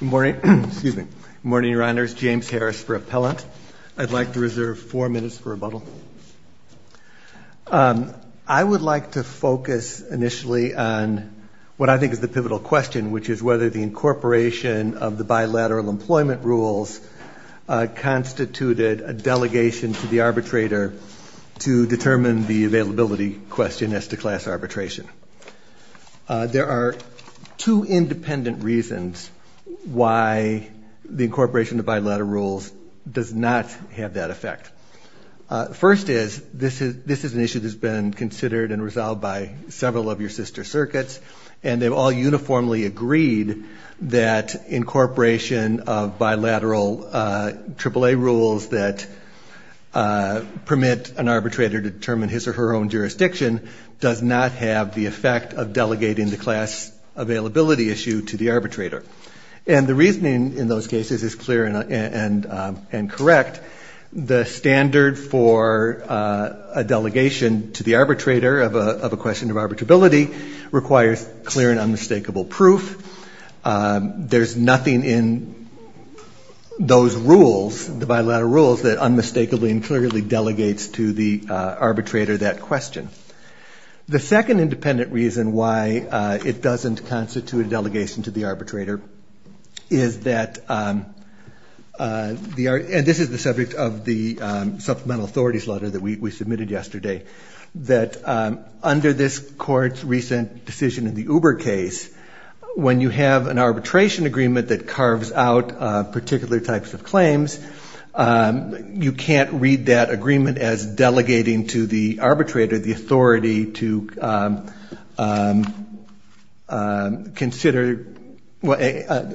Good morning, Your Honors. James Harris for Appellant. I'd like to reserve four minutes for rebuttal. I would like to focus initially on what I think is the pivotal question, which is whether the incorporation of the bilateral employment rules constituted a delegation to the arbitrator to determine the availability question as to class arbitration. There are two independent reasons why the incorporation of bilateral rules does not have that effect. First is, this is an issue that has been considered and resolved by several of your sister circuits, and they've all uniformly agreed that incorporation of bilateral AAA rules that permit an arbitrator to determine his or her own jurisdiction does not have the effect of delegating the class availability issue to the arbitrator. And the reasoning in those cases is clear and correct. The standard for a delegation to the arbitrator of a question of arbitrability requires clear and unmistakable proof. There's nothing in those rules, the bilateral rules, that unmistakably and clearly delegates to the arbitrator that question. The second independent reason why it doesn't constitute a delegation to the arbitrator is that, and this is the subject of the supplemental authorities letter that we submitted yesterday, that under this court's recent decision in the Uber case, when you have an arbitration agreement that carves out particular types of claims, you can't read that agreement as delegating to the arbitrator the authority to consider, let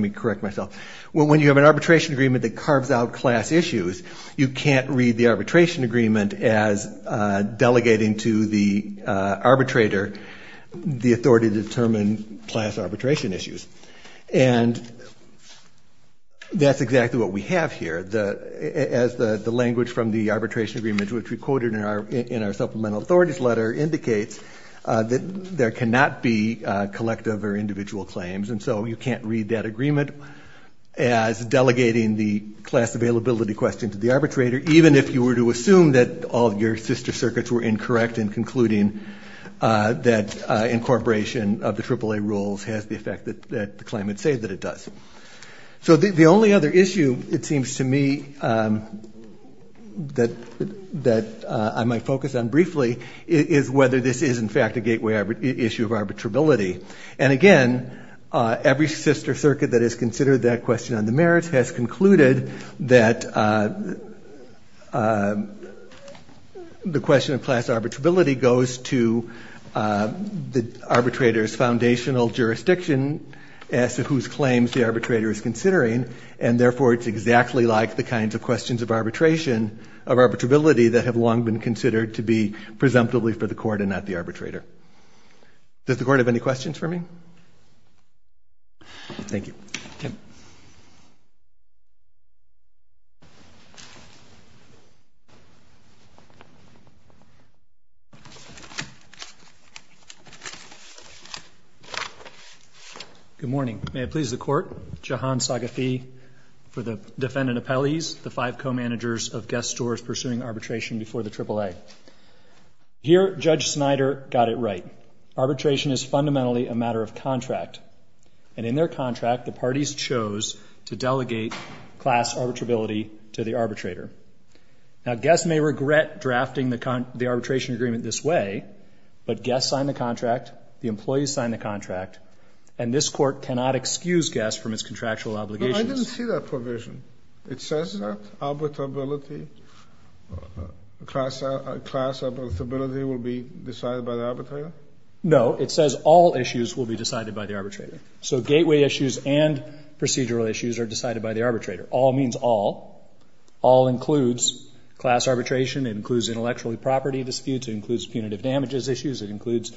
me correct myself, when you have an arbitration agreement that carves out class issues, you can't read the arbitration agreement as delegating to the arbitrator the authority to determine class arbitration issues. And that's exactly what we have here. As the language from the arbitration agreement, which we quoted in our supplemental authorities letter, indicates that there cannot be collective or individual claims, and so you can't read that agreement as delegating the class availability question to the arbitrator, even if you were to assume that all of your sister circuits were incorrect in concluding that incorporation of the AAA rules has the effect that the claimants say that it does. So the only other issue, it seems to me, that I might focus on briefly, is whether this is, in fact, a gateway issue of arbitrability. And again, every sister circuit that has considered that question on the merits has concluded that the question of class arbitrability goes to the arbitrator's foundational jurisdiction as to whose claims the arbitrator is considering, and therefore it's exactly like the kinds of questions of arbitration, of arbitrability, that have long been considered to be presumptively for the court and not the arbitrator. Does the court have any questions for me? Thank you. Okay. Good morning. May it please the court, Jahan Saghafi for the defendant appellees, the five co-managers of guest stores pursuing arbitration before the AAA. Here, Judge Snyder got it right. Arbitration is fundamentally a matter of contract, and in their contract the parties chose to delegate class arbitrability to the arbitrator. Now guests may regret drafting the arbitration agreement this way, but guests signed the contract, the employees signed the contract, and this court cannot excuse guests from its contractual obligations. No, I didn't see that provision. It says that class arbitrability will be decided by the arbitrator? No. It says all issues will be decided by the arbitrator. So gateway issues and procedural issues are decided by the arbitrator. All means all. All includes class arbitration. It includes intellectual property disputes. It includes punitive damages issues. It includes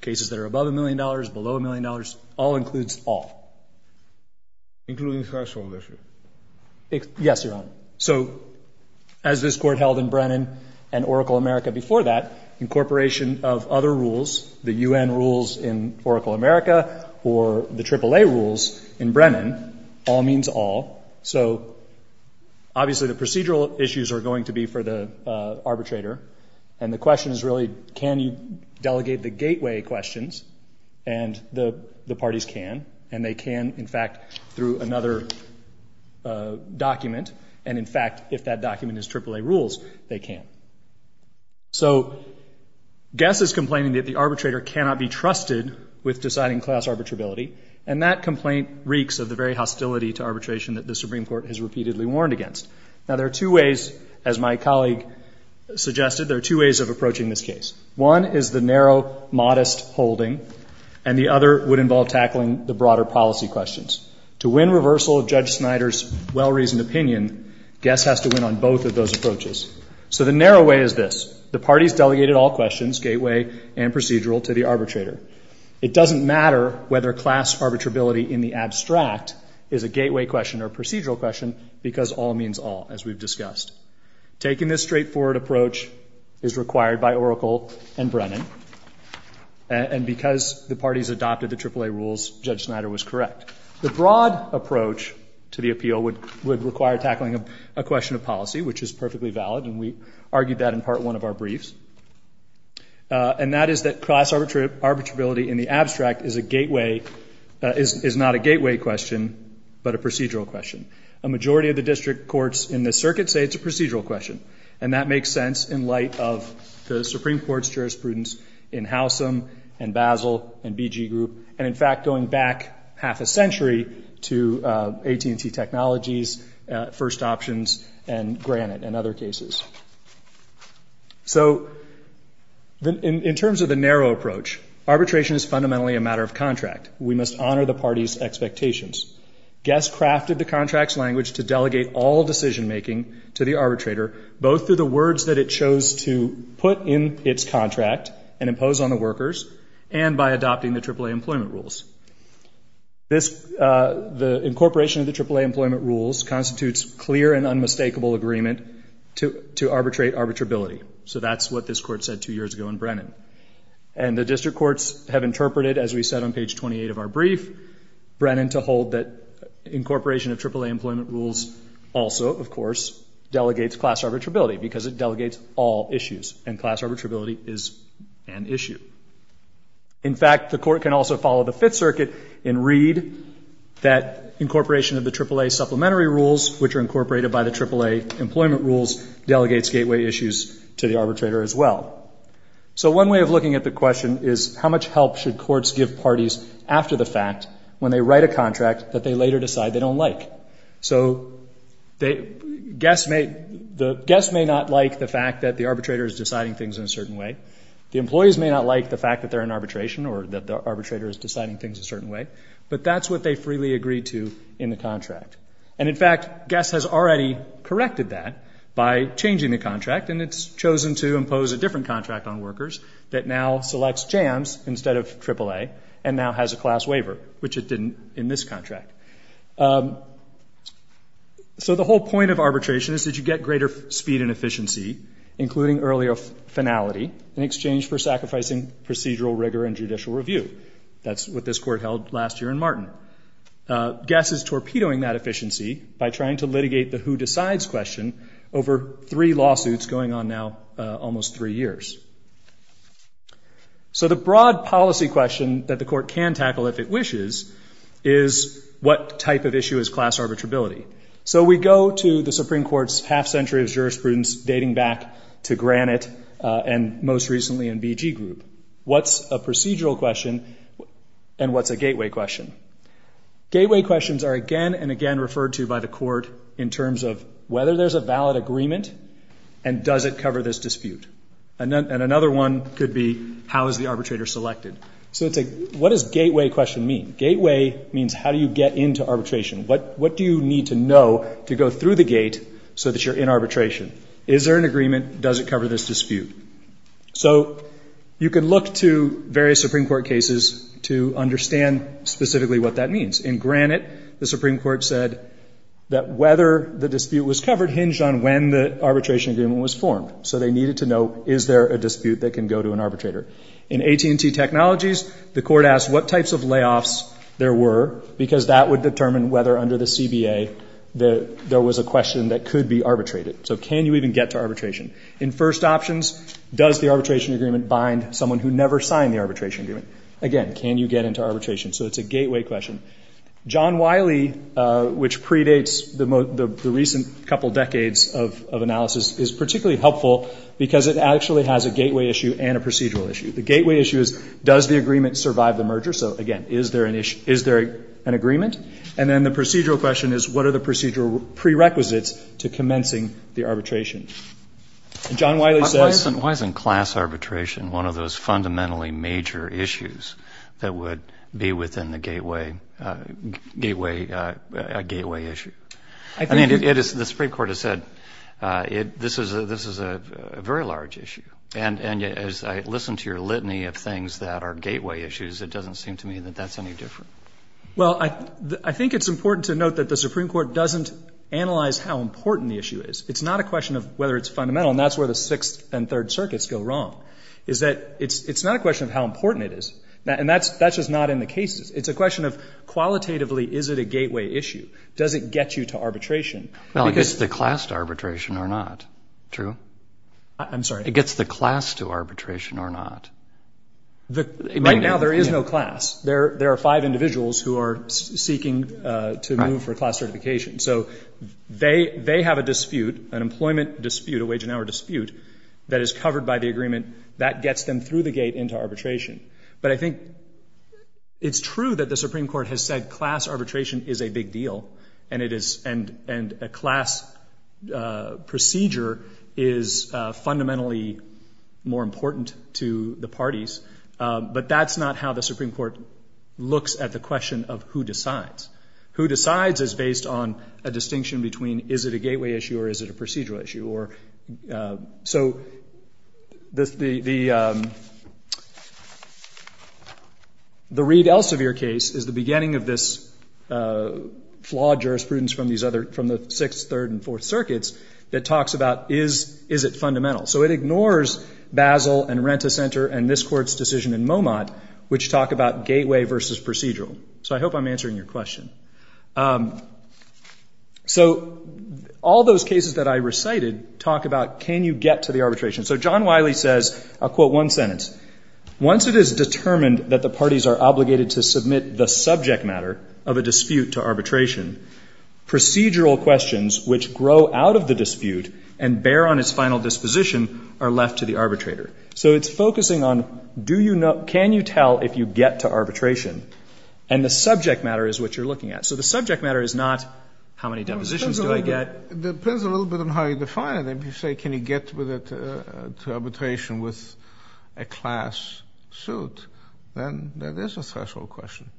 cases that are above a million dollars, below a million dollars. All includes all. Including class ownership. Yes, Your Honor. So as this court held in Brennan and Oracle America before that, incorporation of other rules, the U.N. rules in Oracle America, or the AAA rules in Brennan, all means all. So obviously the procedural issues are going to be for the arbitrator, and the question is really can you delegate the gateway questions, and the parties can, and they can, in fact, through another document, and, in fact, if that document is AAA rules, they can. So guess is complaining that the arbitrator cannot be trusted with deciding class arbitrability, and that complaint reeks of the very hostility to arbitration that the Supreme Court has repeatedly warned against. Now there are two ways, as my colleague suggested, there are two ways of approaching this case. One is the narrow, modest holding, and the other would involve tackling the broader policy questions. To win reversal of Judge Snyder's well-reasoned opinion, guess has to win on both of those approaches. So the narrow way is this. The parties delegated all questions, gateway and procedural, to the arbitrator. It doesn't matter whether class arbitrability in the abstract is a gateway question or a procedural question, because all means all, as we've discussed. Taking this straightforward approach is required by Oracle and Brennan, and because the parties adopted the AAA rules, Judge Snyder was correct. The broad approach to the appeal would require tackling a question of policy, which is perfectly valid, and we argued that in Part 1 of our briefs, and that is that class arbitrability in the abstract is a gateway, is not a gateway question, but a procedural question. A majority of the district courts in this circuit say it's a procedural question, and that makes sense in light of the Supreme Court's jurisprudence in Howsam and Basel and BG Group, and, in fact, going back half a century to AT&T Technologies, First Options, and Granite and other cases. So in terms of the narrow approach, arbitration is fundamentally a matter of contract. We must honor the parties' expectations. Guess crafted the contract's language to delegate all decision-making to the arbitrator, both through the words that it chose to put in its contract and impose on the workers, and by adopting the AAA employment rules. The incorporation of the AAA employment rules constitutes clear and unmistakable agreement to arbitrate arbitrability. So that's what this court said two years ago in Brennan. And the district courts have interpreted, as we said on page 28 of our brief, Brennan to hold that incorporation of AAA employment rules also, of course, delegates class arbitrability because it delegates all issues, and class arbitrability is an issue. In fact, the court can also follow the Fifth Circuit and read that incorporation of the AAA supplementary rules, which are incorporated by the AAA employment rules, delegates gateway issues to the arbitrator as well. So one way of looking at the question is, how much help should courts give parties after the fact when they write a contract that they later decide they don't like? So guess may not like the fact that the arbitrator is deciding things in a certain way. The employees may not like the fact that they're in arbitration or that the arbitrator is deciding things a certain way, but that's what they freely agree to in the contract. And, in fact, guess has already corrected that by changing the contract, and it's chosen to impose a different contract on workers that now selects jams instead of AAA and now has a class waiver, which it didn't in this contract. So the whole point of arbitration is that you get greater speed and efficiency, including earlier finality, in exchange for sacrificing procedural rigor and judicial review. That's what this court held last year in Martin. Guess is torpedoing that efficiency by trying to litigate the who decides question over three lawsuits going on now almost three years. So the broad policy question that the court can tackle if it wishes is, what type of issue is class arbitrability? So we go to the Supreme Court's half century of jurisprudence dating back to Granite and most recently in BG Group. What's a procedural question and what's a gateway question? Gateway questions are again and again referred to by the court in terms of whether there's a valid agreement and does it cover this dispute. And another one could be how is the arbitrator selected. So what does gateway question mean? Gateway means how do you get into arbitration. What do you need to know to go through the gate so that you're in arbitration? Is there an agreement? Does it cover this dispute? So you can look to various Supreme Court cases to understand specifically what that means. In Granite, the Supreme Court said that whether the dispute was covered hinged on when the arbitration agreement was formed, so they needed to know is there a dispute that can go to an arbitrator. In AT&T Technologies, the court asked what types of layoffs there were because that would determine whether under the CBA there was a question that could be arbitrated. So can you even get to arbitration? In first options, does the arbitration agreement bind someone who never signed the arbitration agreement? Again, can you get into arbitration? So it's a gateway question. John Wiley, which predates the recent couple decades of analysis, is particularly helpful because it actually has a gateway issue and a procedural issue. The gateway issue is does the agreement survive the merger? So, again, is there an agreement? And then the procedural question is what are the procedural prerequisites to commencing the arbitration? And John Wiley says— I mean, the Supreme Court has said this is a very large issue. And as I listen to your litany of things that are gateway issues, it doesn't seem to me that that's any different. Well, I think it's important to note that the Supreme Court doesn't analyze how important the issue is. It's not a question of whether it's fundamental, and that's where the Sixth and Third Circuits go wrong, is that it's not a question of how important it is. And that's just not in the cases. It's a question of qualitatively is it a gateway issue? Does it get you to arbitration? Well, it gets the class to arbitration or not. True? I'm sorry? It gets the class to arbitration or not. Right now there is no class. There are five individuals who are seeking to move for class certification. So they have a dispute, an employment dispute, a wage and hour dispute, that is covered by the agreement. That gets them through the gate into arbitration. But I think it's true that the Supreme Court has said class arbitration is a big deal and a class procedure is fundamentally more important to the parties, but that's not how the Supreme Court looks at the question of who decides. Who decides is based on a distinction between is it a gateway issue or is it a procedural issue. So the Reed Elsevier case is the beginning of this flawed jurisprudence from the Sixth, Third, and Fourth Circuits that talks about is it fundamental. So it ignores Basel and Renta Center and this Court's decision in Momot, which talk about gateway versus procedural. So I hope I'm answering your question. So all those cases that I recited talk about can you get to the arbitration. So John Wiley says, I'll quote one sentence, once it is determined that the parties are obligated to submit the subject matter of a dispute to arbitration, procedural questions which grow out of the dispute and bear on its final disposition are left to the arbitrator. So it's focusing on can you tell if you get to arbitration and the subject matter is what you're looking at. So the subject matter is not how many depositions do I get. It depends a little bit on how you define it. If you say can you get to arbitration with a class suit, then that is a threshold question.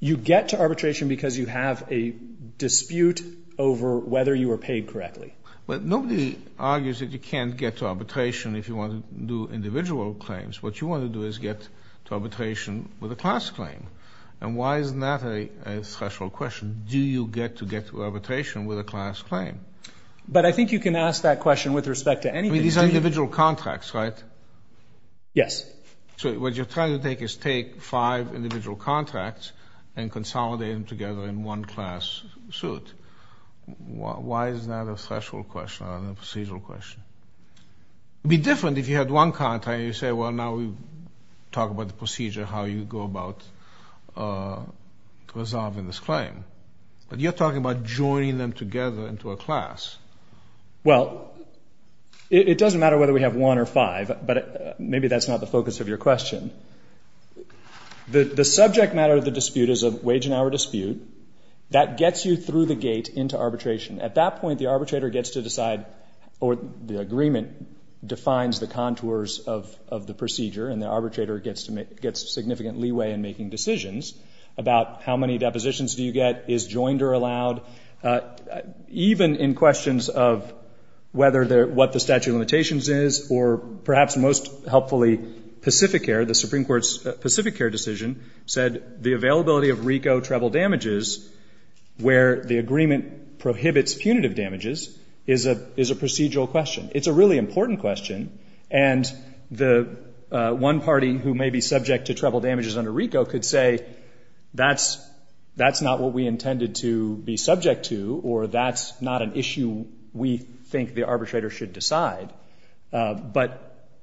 You get to arbitration because you have a dispute over whether you were paid correctly. Well, nobody argues that you can't get to arbitration if you want to do individual claims. What you want to do is get to arbitration with a class claim. And why isn't that a threshold question? Do you get to get to arbitration with a class claim? But I think you can ask that question with respect to anything. These are individual contracts, right? Yes. So what you're trying to take is take five individual contracts and consolidate them together in one class suit. Why is that a threshold question rather than a procedural question? It would be different if you had one contract and you say, well, now we talk about the procedure, how you go about resolving this claim. But you're talking about joining them together into a class. Well, it doesn't matter whether we have one or five, but maybe that's not the focus of your question. The subject matter of the dispute is a wage and hour dispute. That gets you through the gate into arbitration. At that point, the arbitrator gets to decide or the agreement defines the contours of the procedure, and the arbitrator gets significant leeway in making decisions about how many depositions do you get, is joinder allowed. Even in questions of whether what the statute of limitations is or perhaps most helpfully Pacificare, the Supreme Court's Pacificare decision, said the availability of RICO treble damages where the agreement prohibits punitive damages is a procedural question. It's a really important question, and the one party who may be subject to treble damages under RICO could say, that's not what we intended to be subject to or that's not an issue we think the arbitrator should decide, but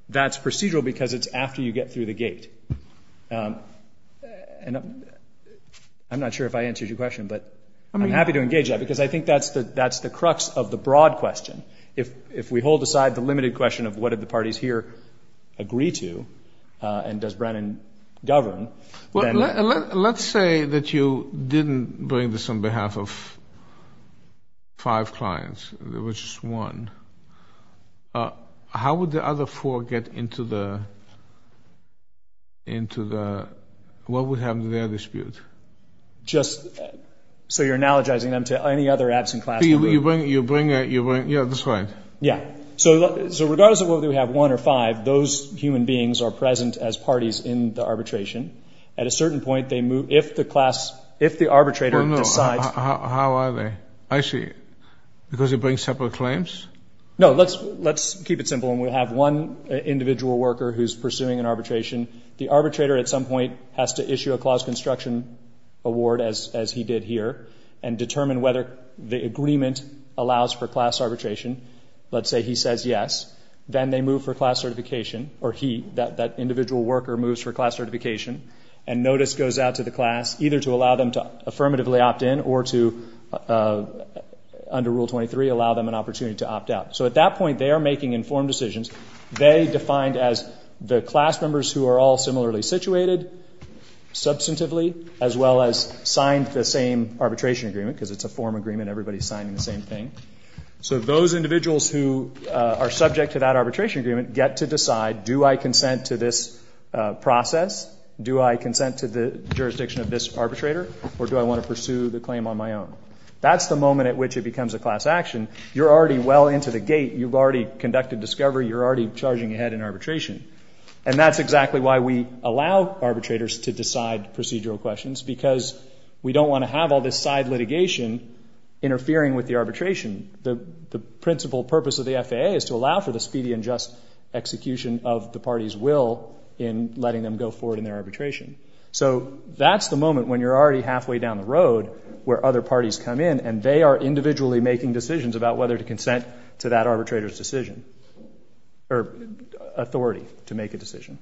that's procedural because it's after you get through the gate. I'm not sure if I answered your question, but I'm happy to engage that because I think that's the crux of the broad question. If we hold aside the limited question of what did the parties here agree to and does Brennan govern, then... Let's say that you didn't bring this on behalf of five clients, there was just one. How would the other four get into the... What would happen to their dispute? So you're analogizing them to any other absent class? You bring... Yeah, that's right. Yeah. So regardless of whether we have one or five, those human beings are present as parties in the arbitration. At a certain point, if the arbitrator decides... How are they? I see. Because they bring separate claims? No, let's keep it simple. When we have one individual worker who's pursuing an arbitration, the arbitrator at some point has to issue a clause construction award, as he did here, and determine whether the agreement allows for class arbitration. Let's say he says yes. Then they move for class certification, or he, that individual worker moves for class certification, and notice goes out to the class either to allow them to affirmatively opt in or to, under Rule 23, allow them an opportunity to opt out. So at that point, they are making informed decisions. They defined as the class members who are all similarly situated substantively, as well as signed the same arbitration agreement, because it's a form agreement, everybody's signing the same thing. So those individuals who are subject to that arbitration agreement get to decide, do I consent to this process, do I consent to the jurisdiction of this arbitrator, or do I want to pursue the claim on my own? That's the moment at which it becomes a class action. You're already well into the gate. You've already conducted discovery. You're already charging ahead in arbitration. And that's exactly why we allow arbitrators to decide procedural questions, because we don't want to have all this side litigation interfering with the arbitration. The principal purpose of the FAA is to allow for the speedy and just execution of the party's will in letting them go forward in their arbitration. So that's the moment when you're already halfway down the road where other parties come in and they are individually making decisions about whether to consent to that arbitrator's decision or authority to make a decision.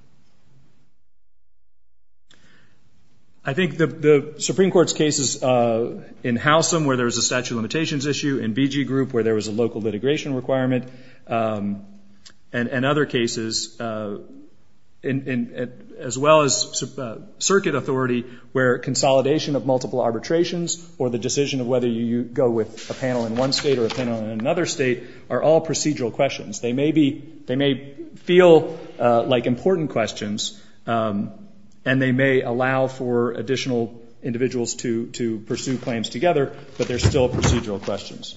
I think the Supreme Court's cases in Howsam, where there was a statute of limitations issue, in BG Group, where there was a local litigation requirement, and other cases, as well as circuit authority, where consolidation of multiple arbitrations or the decision of whether you go with a panel in one state or a panel in another state are all procedural questions. They may feel like important questions, and they may allow for additional individuals to pursue claims together, but they're still procedural questions.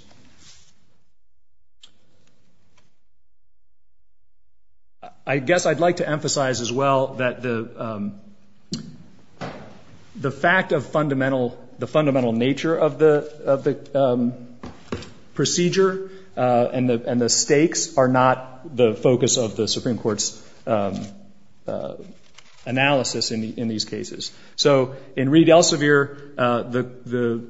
I guess I'd like to emphasize, as well, that the fact of the fundamental nature of the procedure and the stakes are not the focus of the Supreme Court's analysis in these cases. So in Reed Elsevier, the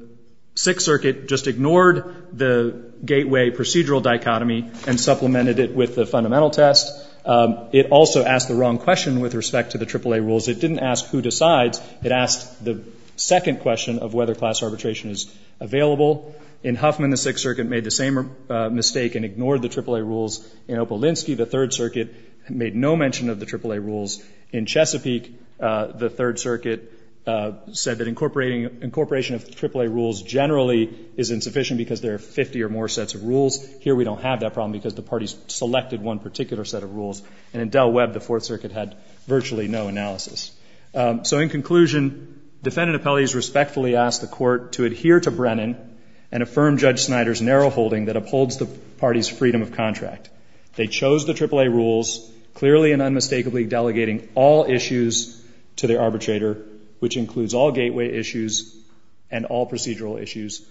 Sixth Circuit just ignored the gateway procedural dichotomy and supplemented it with the fundamental test. It also asked the wrong question with respect to the AAA rules. It didn't ask who decides. It asked the second question of whether class arbitration is available. In Huffman, the Sixth Circuit made the same mistake and ignored the AAA rules. In Opolinsky, the Third Circuit made no mention of the AAA rules. In Chesapeake, the Third Circuit said that incorporation of AAA rules generally is insufficient because there are 50 or more sets of rules. Here, we don't have that problem because the parties selected one particular set of rules. And in Del Webb, the Fourth Circuit had virtually no analysis. So in conclusion, defendant appellees respectfully ask the Court to adhere to Brennan and affirm Judge Snyder's narrow holding that upholds the parties' freedom of contract. They chose the AAA rules, clearly and unmistakably delegating all issues to their arbitrator, which includes all gateway issues and all procedural issues,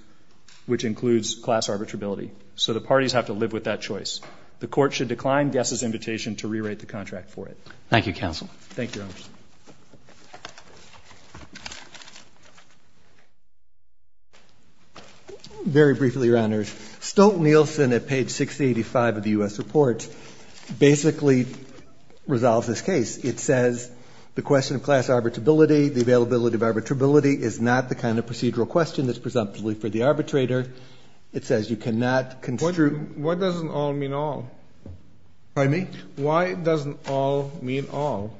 which includes class arbitrability. So the parties have to live with that choice. The Court should decline Guess's invitation to rewrite the contract for it. Thank you, counsel. Thank you, Your Honors. Very briefly, Your Honors, Stolten-Nielsen at page 685 of the U.S. report basically resolves this case. It says the question of class arbitrability, the availability of arbitrability is not the kind of procedural question that's presumptively for the arbitrator. It says you cannot construe ---- Why doesn't all mean all? Pardon me? Why doesn't all mean all?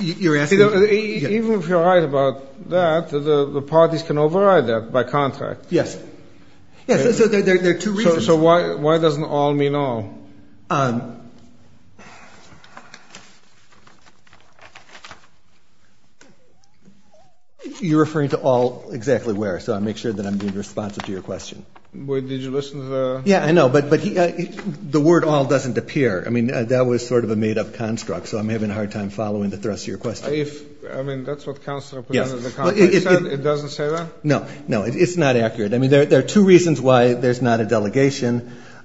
You're asking me? Even if you're right about that, the parties can override that by contract. Yes. Yes, so there are two reasons. So why doesn't all mean all? You're referring to all exactly where, so I'll make sure that I'm being responsive to your question. Wait, did you listen to the ---- Yeah, I know, but the word all doesn't appear. I mean, that was sort of a made-up construct, so I'm having a hard time following the thrust of your question. If ---- I mean, that's what counsel presented the contract said. It doesn't say that? No. No, it's not accurate. I mean, there are two reasons why there's not a delegation.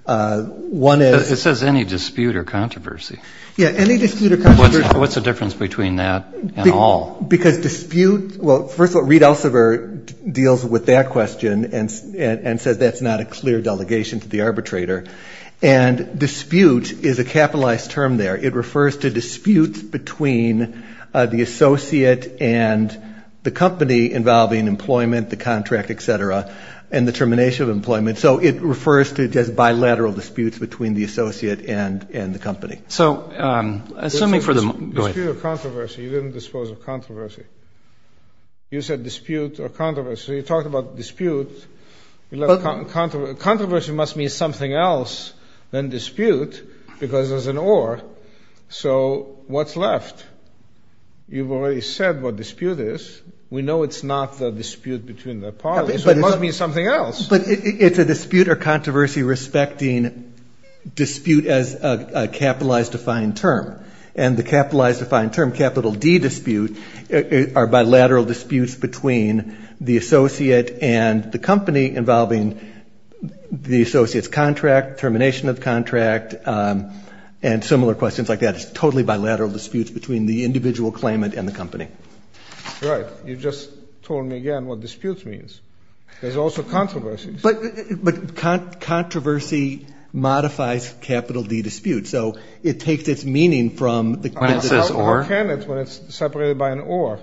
One is ---- It says any dispute or controversy. Yeah, any dispute or controversy. What's the difference between that and all? Because dispute ---- well, first of all, Reed Elsevier deals with that question and says that's not a clear delegation to the arbitrator. And dispute is a capitalized term there. It refers to disputes between the associate and the company involving employment, the contract, et cetera, and the termination of employment. So it refers to just bilateral disputes between the associate and the company. So assuming for the ---- Go ahead. Dispute or controversy. You didn't dispose of controversy. You said dispute or controversy. So you talked about dispute. Controversy must mean something else than dispute because there's an or. So what's left? You've already said what dispute is. We know it's not the dispute between the parties. It must mean something else. But it's a dispute or controversy respecting dispute as a capitalized defined term. And the capitalized defined term, capital D dispute, are bilateral disputes between the associate and the company involving the associate's contract, termination of contract, and similar questions like that. It's totally bilateral disputes between the individual claimant and the company. Right. You just told me again what dispute means. There's also controversy. But controversy modifies capital D dispute. So it takes its meaning from the ---- When it says or? When it's separated by an or.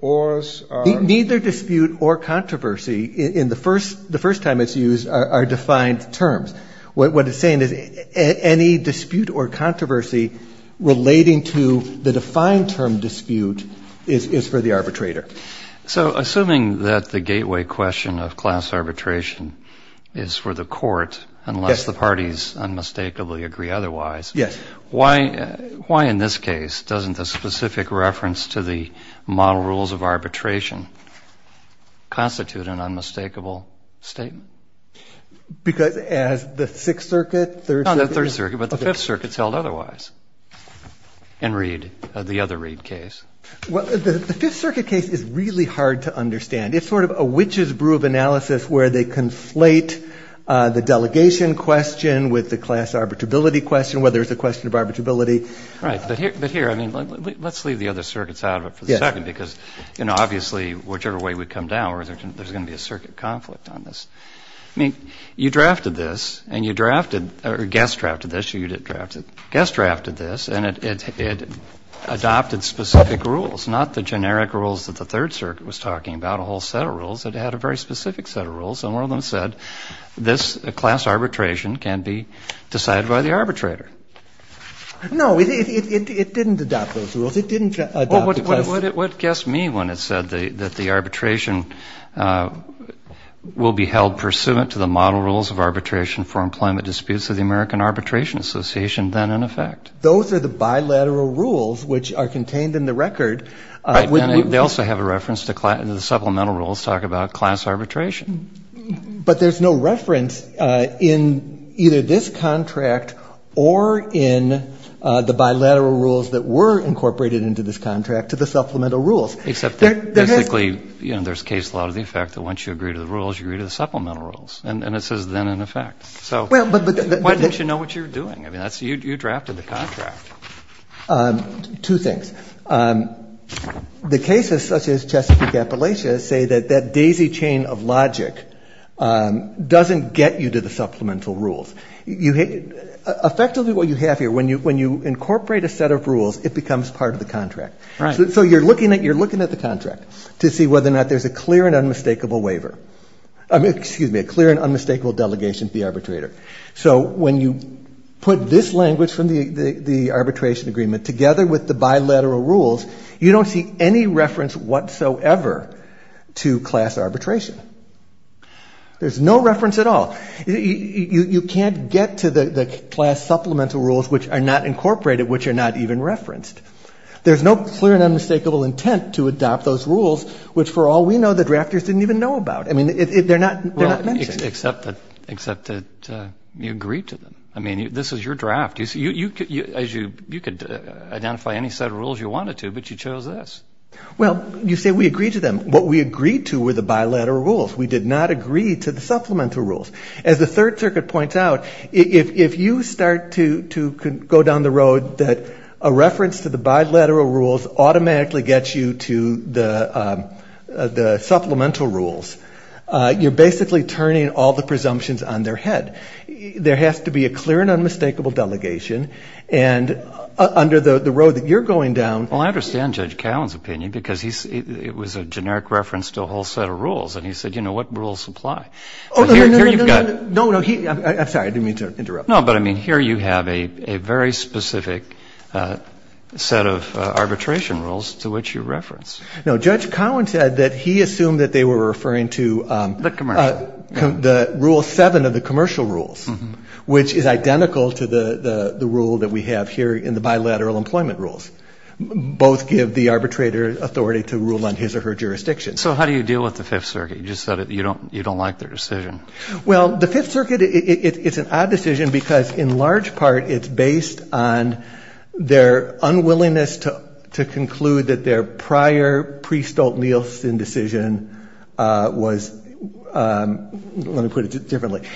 Ors are ---- Neither dispute or controversy in the first time it's used are defined terms. What it's saying is any dispute or controversy relating to the defined term dispute is for the arbitrator. So assuming that the gateway question of class arbitration is for the court, unless the parties unmistakably agree otherwise, why in this case doesn't the specific reference to the model rules of arbitration constitute an unmistakable statement? Because as the Sixth Circuit, Third Circuit ---- No, not the Third Circuit, but the Fifth Circuit's held otherwise in the other Reid case. Well, the Fifth Circuit case is really hard to understand. It's sort of a witch's brew of analysis where they conflate the delegation question with the class arbitrability question, whether it's a question of arbitrability. Right. But here, I mean, let's leave the other circuits out of it for the second because, you know, obviously whichever way we come down, there's going to be a circuit conflict on this. I mean, you drafted this, and you drafted or guest drafted this, or you didn't draft it, but you guest drafted this, and it adopted specific rules, not the generic rules that the Third Circuit was talking about, a whole set of rules. It had a very specific set of rules, and one of them said this class arbitration can be decided by the arbitrator. No, it didn't adopt those rules. It didn't adopt the class ---- Well, what guessed me when it said that the arbitration will be held pursuant to the model rules of arbitration for employment disputes of the American Arbitration Association, then in effect. Those are the bilateral rules which are contained in the record. They also have a reference to the supplemental rules talk about class arbitration. But there's no reference in either this contract or in the bilateral rules that were incorporated into this contract to the supplemental rules. Except that basically, you know, there's case law to the effect that once you agree to the rules, you agree to the supplemental rules, and this is then in effect. So why didn't you know what you were doing? I mean, you drafted the contract. Two things. The cases such as Chesapeake-Appalachia say that that daisy chain of logic doesn't get you to the supplemental rules. Effectively, what you have here, when you incorporate a set of rules, it becomes part of the contract. Right. So you're looking at the contract to see whether or not there's a clear and unmistakable waiver. Excuse me, a clear and unmistakable delegation to the arbitrator. So when you put this language from the arbitration agreement together with the bilateral rules, you don't see any reference whatsoever to class arbitration. There's no reference at all. You can't get to the class supplemental rules which are not incorporated, which are not even referenced. There's no clear and unmistakable intent to adopt those rules, which for all we know the drafters didn't even know about. I mean, they're not mentioned. Except that you agreed to them. I mean, this is your draft. You could identify any set of rules you wanted to, but you chose this. Well, you say we agreed to them. What we agreed to were the bilateral rules. We did not agree to the supplemental rules. As the Third Circuit points out, if you start to go down the road that a reference to the bilateral rules automatically gets you to the supplemental rules, you're basically turning all the presumptions on their head. There has to be a clear and unmistakable delegation. And under the road that you're going down. Well, I understand Judge Cowen's opinion because it was a generic reference to a whole set of rules. And he said, you know, what rules apply. Oh, no, no, no. I'm sorry. I didn't mean to interrupt. No, but I mean, here you have a very specific set of arbitration rules to which you reference. No, Judge Cowen said that he assumed that they were referring to the rule seven of the commercial rules, which is identical to the rule that we have here in the bilateral employment rules. Both give the arbitrator authority to rule on his or her jurisdiction. So how do you deal with the Fifth Circuit? You just said you don't like their decision. Well, the Fifth Circuit, it's an odd decision because, in large part, it's based on their unwillingness to conclude that their prior pre-Stolt-Nielsen decision was, let me put it differently,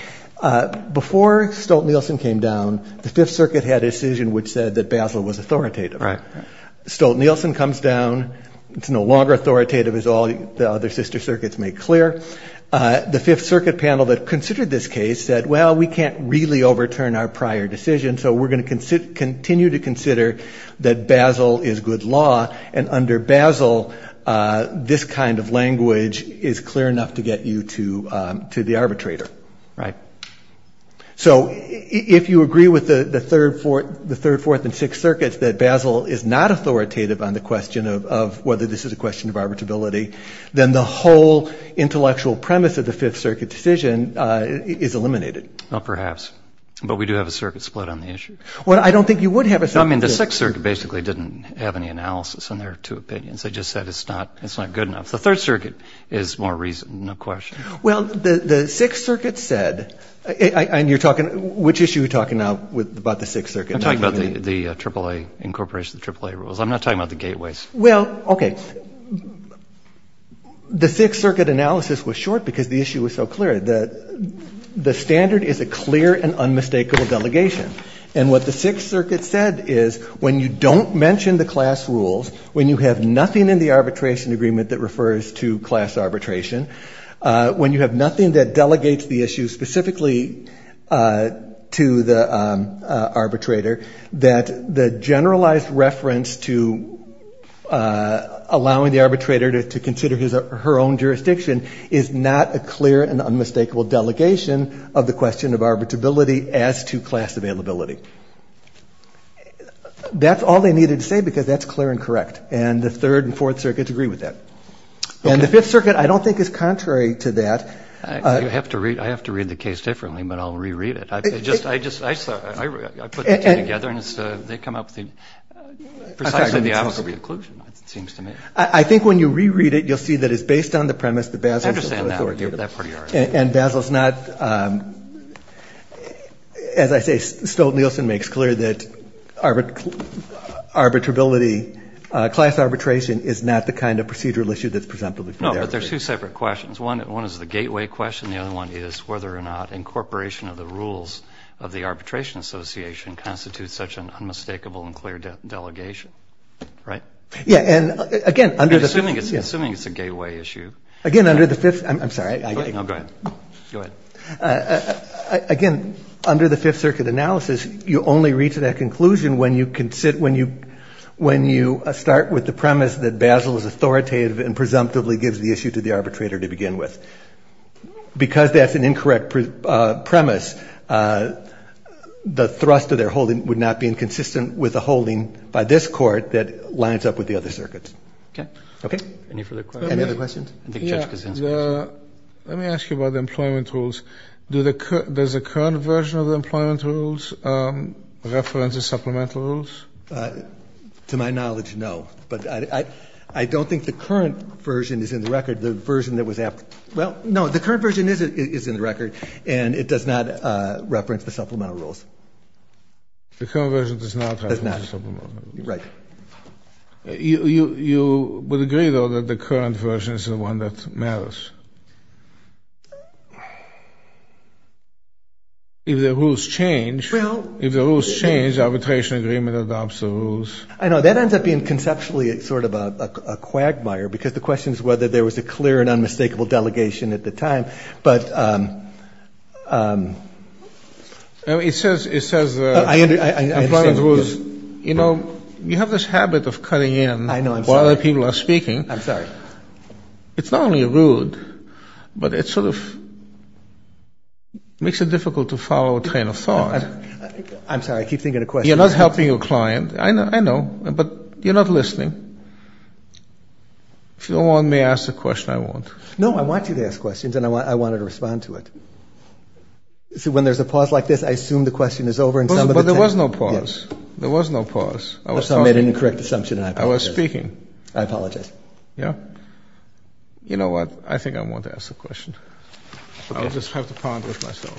before Stolt-Nielsen came down, the Fifth Circuit had a decision which said that Basler was authoritative. Right. Stolt-Nielsen comes down. It's no longer authoritative, as all the other sister circuits make clear. The Fifth Circuit panel that considered this case said, well, we can't really overturn our prior decision, so we're going to continue to consider that Basler is good law, and under Basler this kind of language is clear enough to get you to the arbitrator. Right. So if you agree with the Third, Fourth, and Sixth Circuits that Basler is not authoritative on the question of whether this is a question of arbitrability, then the whole intellectual premise of the Fifth Circuit decision is eliminated. Well, perhaps, but we do have a circuit split on the issue. Well, I don't think you would have a circuit split. I mean, the Sixth Circuit basically didn't have any analysis on their two opinions. They just said it's not good enough. The Third Circuit is more reasonable, no question. Well, the Sixth Circuit said, and you're talking, which issue are you talking now about the Sixth Circuit? I'm talking about the AAA incorporation of the AAA rules. I'm not talking about the gateways. Well, okay, the Sixth Circuit analysis was short because the issue was so clear. The standard is a clear and unmistakable delegation, and what the Sixth Circuit said is when you don't mention the class rules, when you have nothing in the arbitration agreement that refers to class arbitration, when you have nothing that delegates the issue specifically to the arbitrator, that the generalized reference to allowing the arbitrator to consider her own jurisdiction is not a clear and unmistakable delegation of the question of arbitrability as to class availability. That's all they needed to say because that's clear and correct, and the Third and Fourth Circuits agree with that. And the Fifth Circuit, I don't think, is contrary to that. I have to read the case differently, but I'll reread it. I put the two together, and they come up with precisely the opposite conclusion, it seems to me. I think when you reread it, you'll see that it's based on the premise that Basil is not authoritative. I understand that. And Basil is not, as I say, Stolt-Nielsen makes clear that arbitrability, class arbitration is not the kind of procedural issue that's presumptively for the arbitrator. No, but there's two separate questions. One is the gateway question, and the other one is whether or not incorporation of the rules of the arbitration association constitutes such an unmistakable and clear delegation. Right? Yeah, and again, under the Fifth… I'm assuming it's a gateway issue. Again, under the Fifth… I'm sorry. No, go ahead. Go ahead. Again, under the Fifth Circuit analysis, you only reach that conclusion when you start with the premise that Basil is authoritative and presumptively gives the issue to the arbitrator to begin with. Because that's an incorrect premise, the thrust of their holding would not be inconsistent with the holding by this court that lines up with the other circuits. Okay. Any further questions? Any other questions? Let me ask you about the employment rules. Does the current version of the employment rules reference the supplemental rules? To my knowledge, no. But I don't think the current version is in the record. The version that was… Well, no, the current version is in the record, and it does not reference the supplemental rules. The current version does not reference the supplemental rules? Does not. Right. You would agree, though, that the current version is the one that matters? If the rules change… Well… If the rules change, arbitration agreement adopts the rules. I know. That ends up being conceptually sort of a quagmire, because the question is whether there was a clear and unmistakable delegation at the time. But… It says the employment rules… I understand. You know, you have this habit of cutting in while other people are speaking. I'm sorry. It's not only rude, but it sort of makes it difficult to follow a train of thought. I'm sorry. I keep thinking of questions. You're not helping your client. I know. But you're not listening. If you don't want me to ask the question, I won't. No, I want you to ask questions, and I want you to respond to it. See, when there's a pause like this, I assume the question is over, and some of the time… But there was no pause. There was no pause. That's how I made an incorrect assumption, and I apologize. I was speaking. I apologize. Yeah. You know what? I think I won't ask the question. I'll just have to ponder it myself.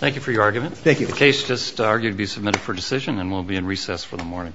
Thank you for your argument. Thank you. The case is just argued to be submitted for decision, and we'll be in recess for the morning. All rise. Thank you.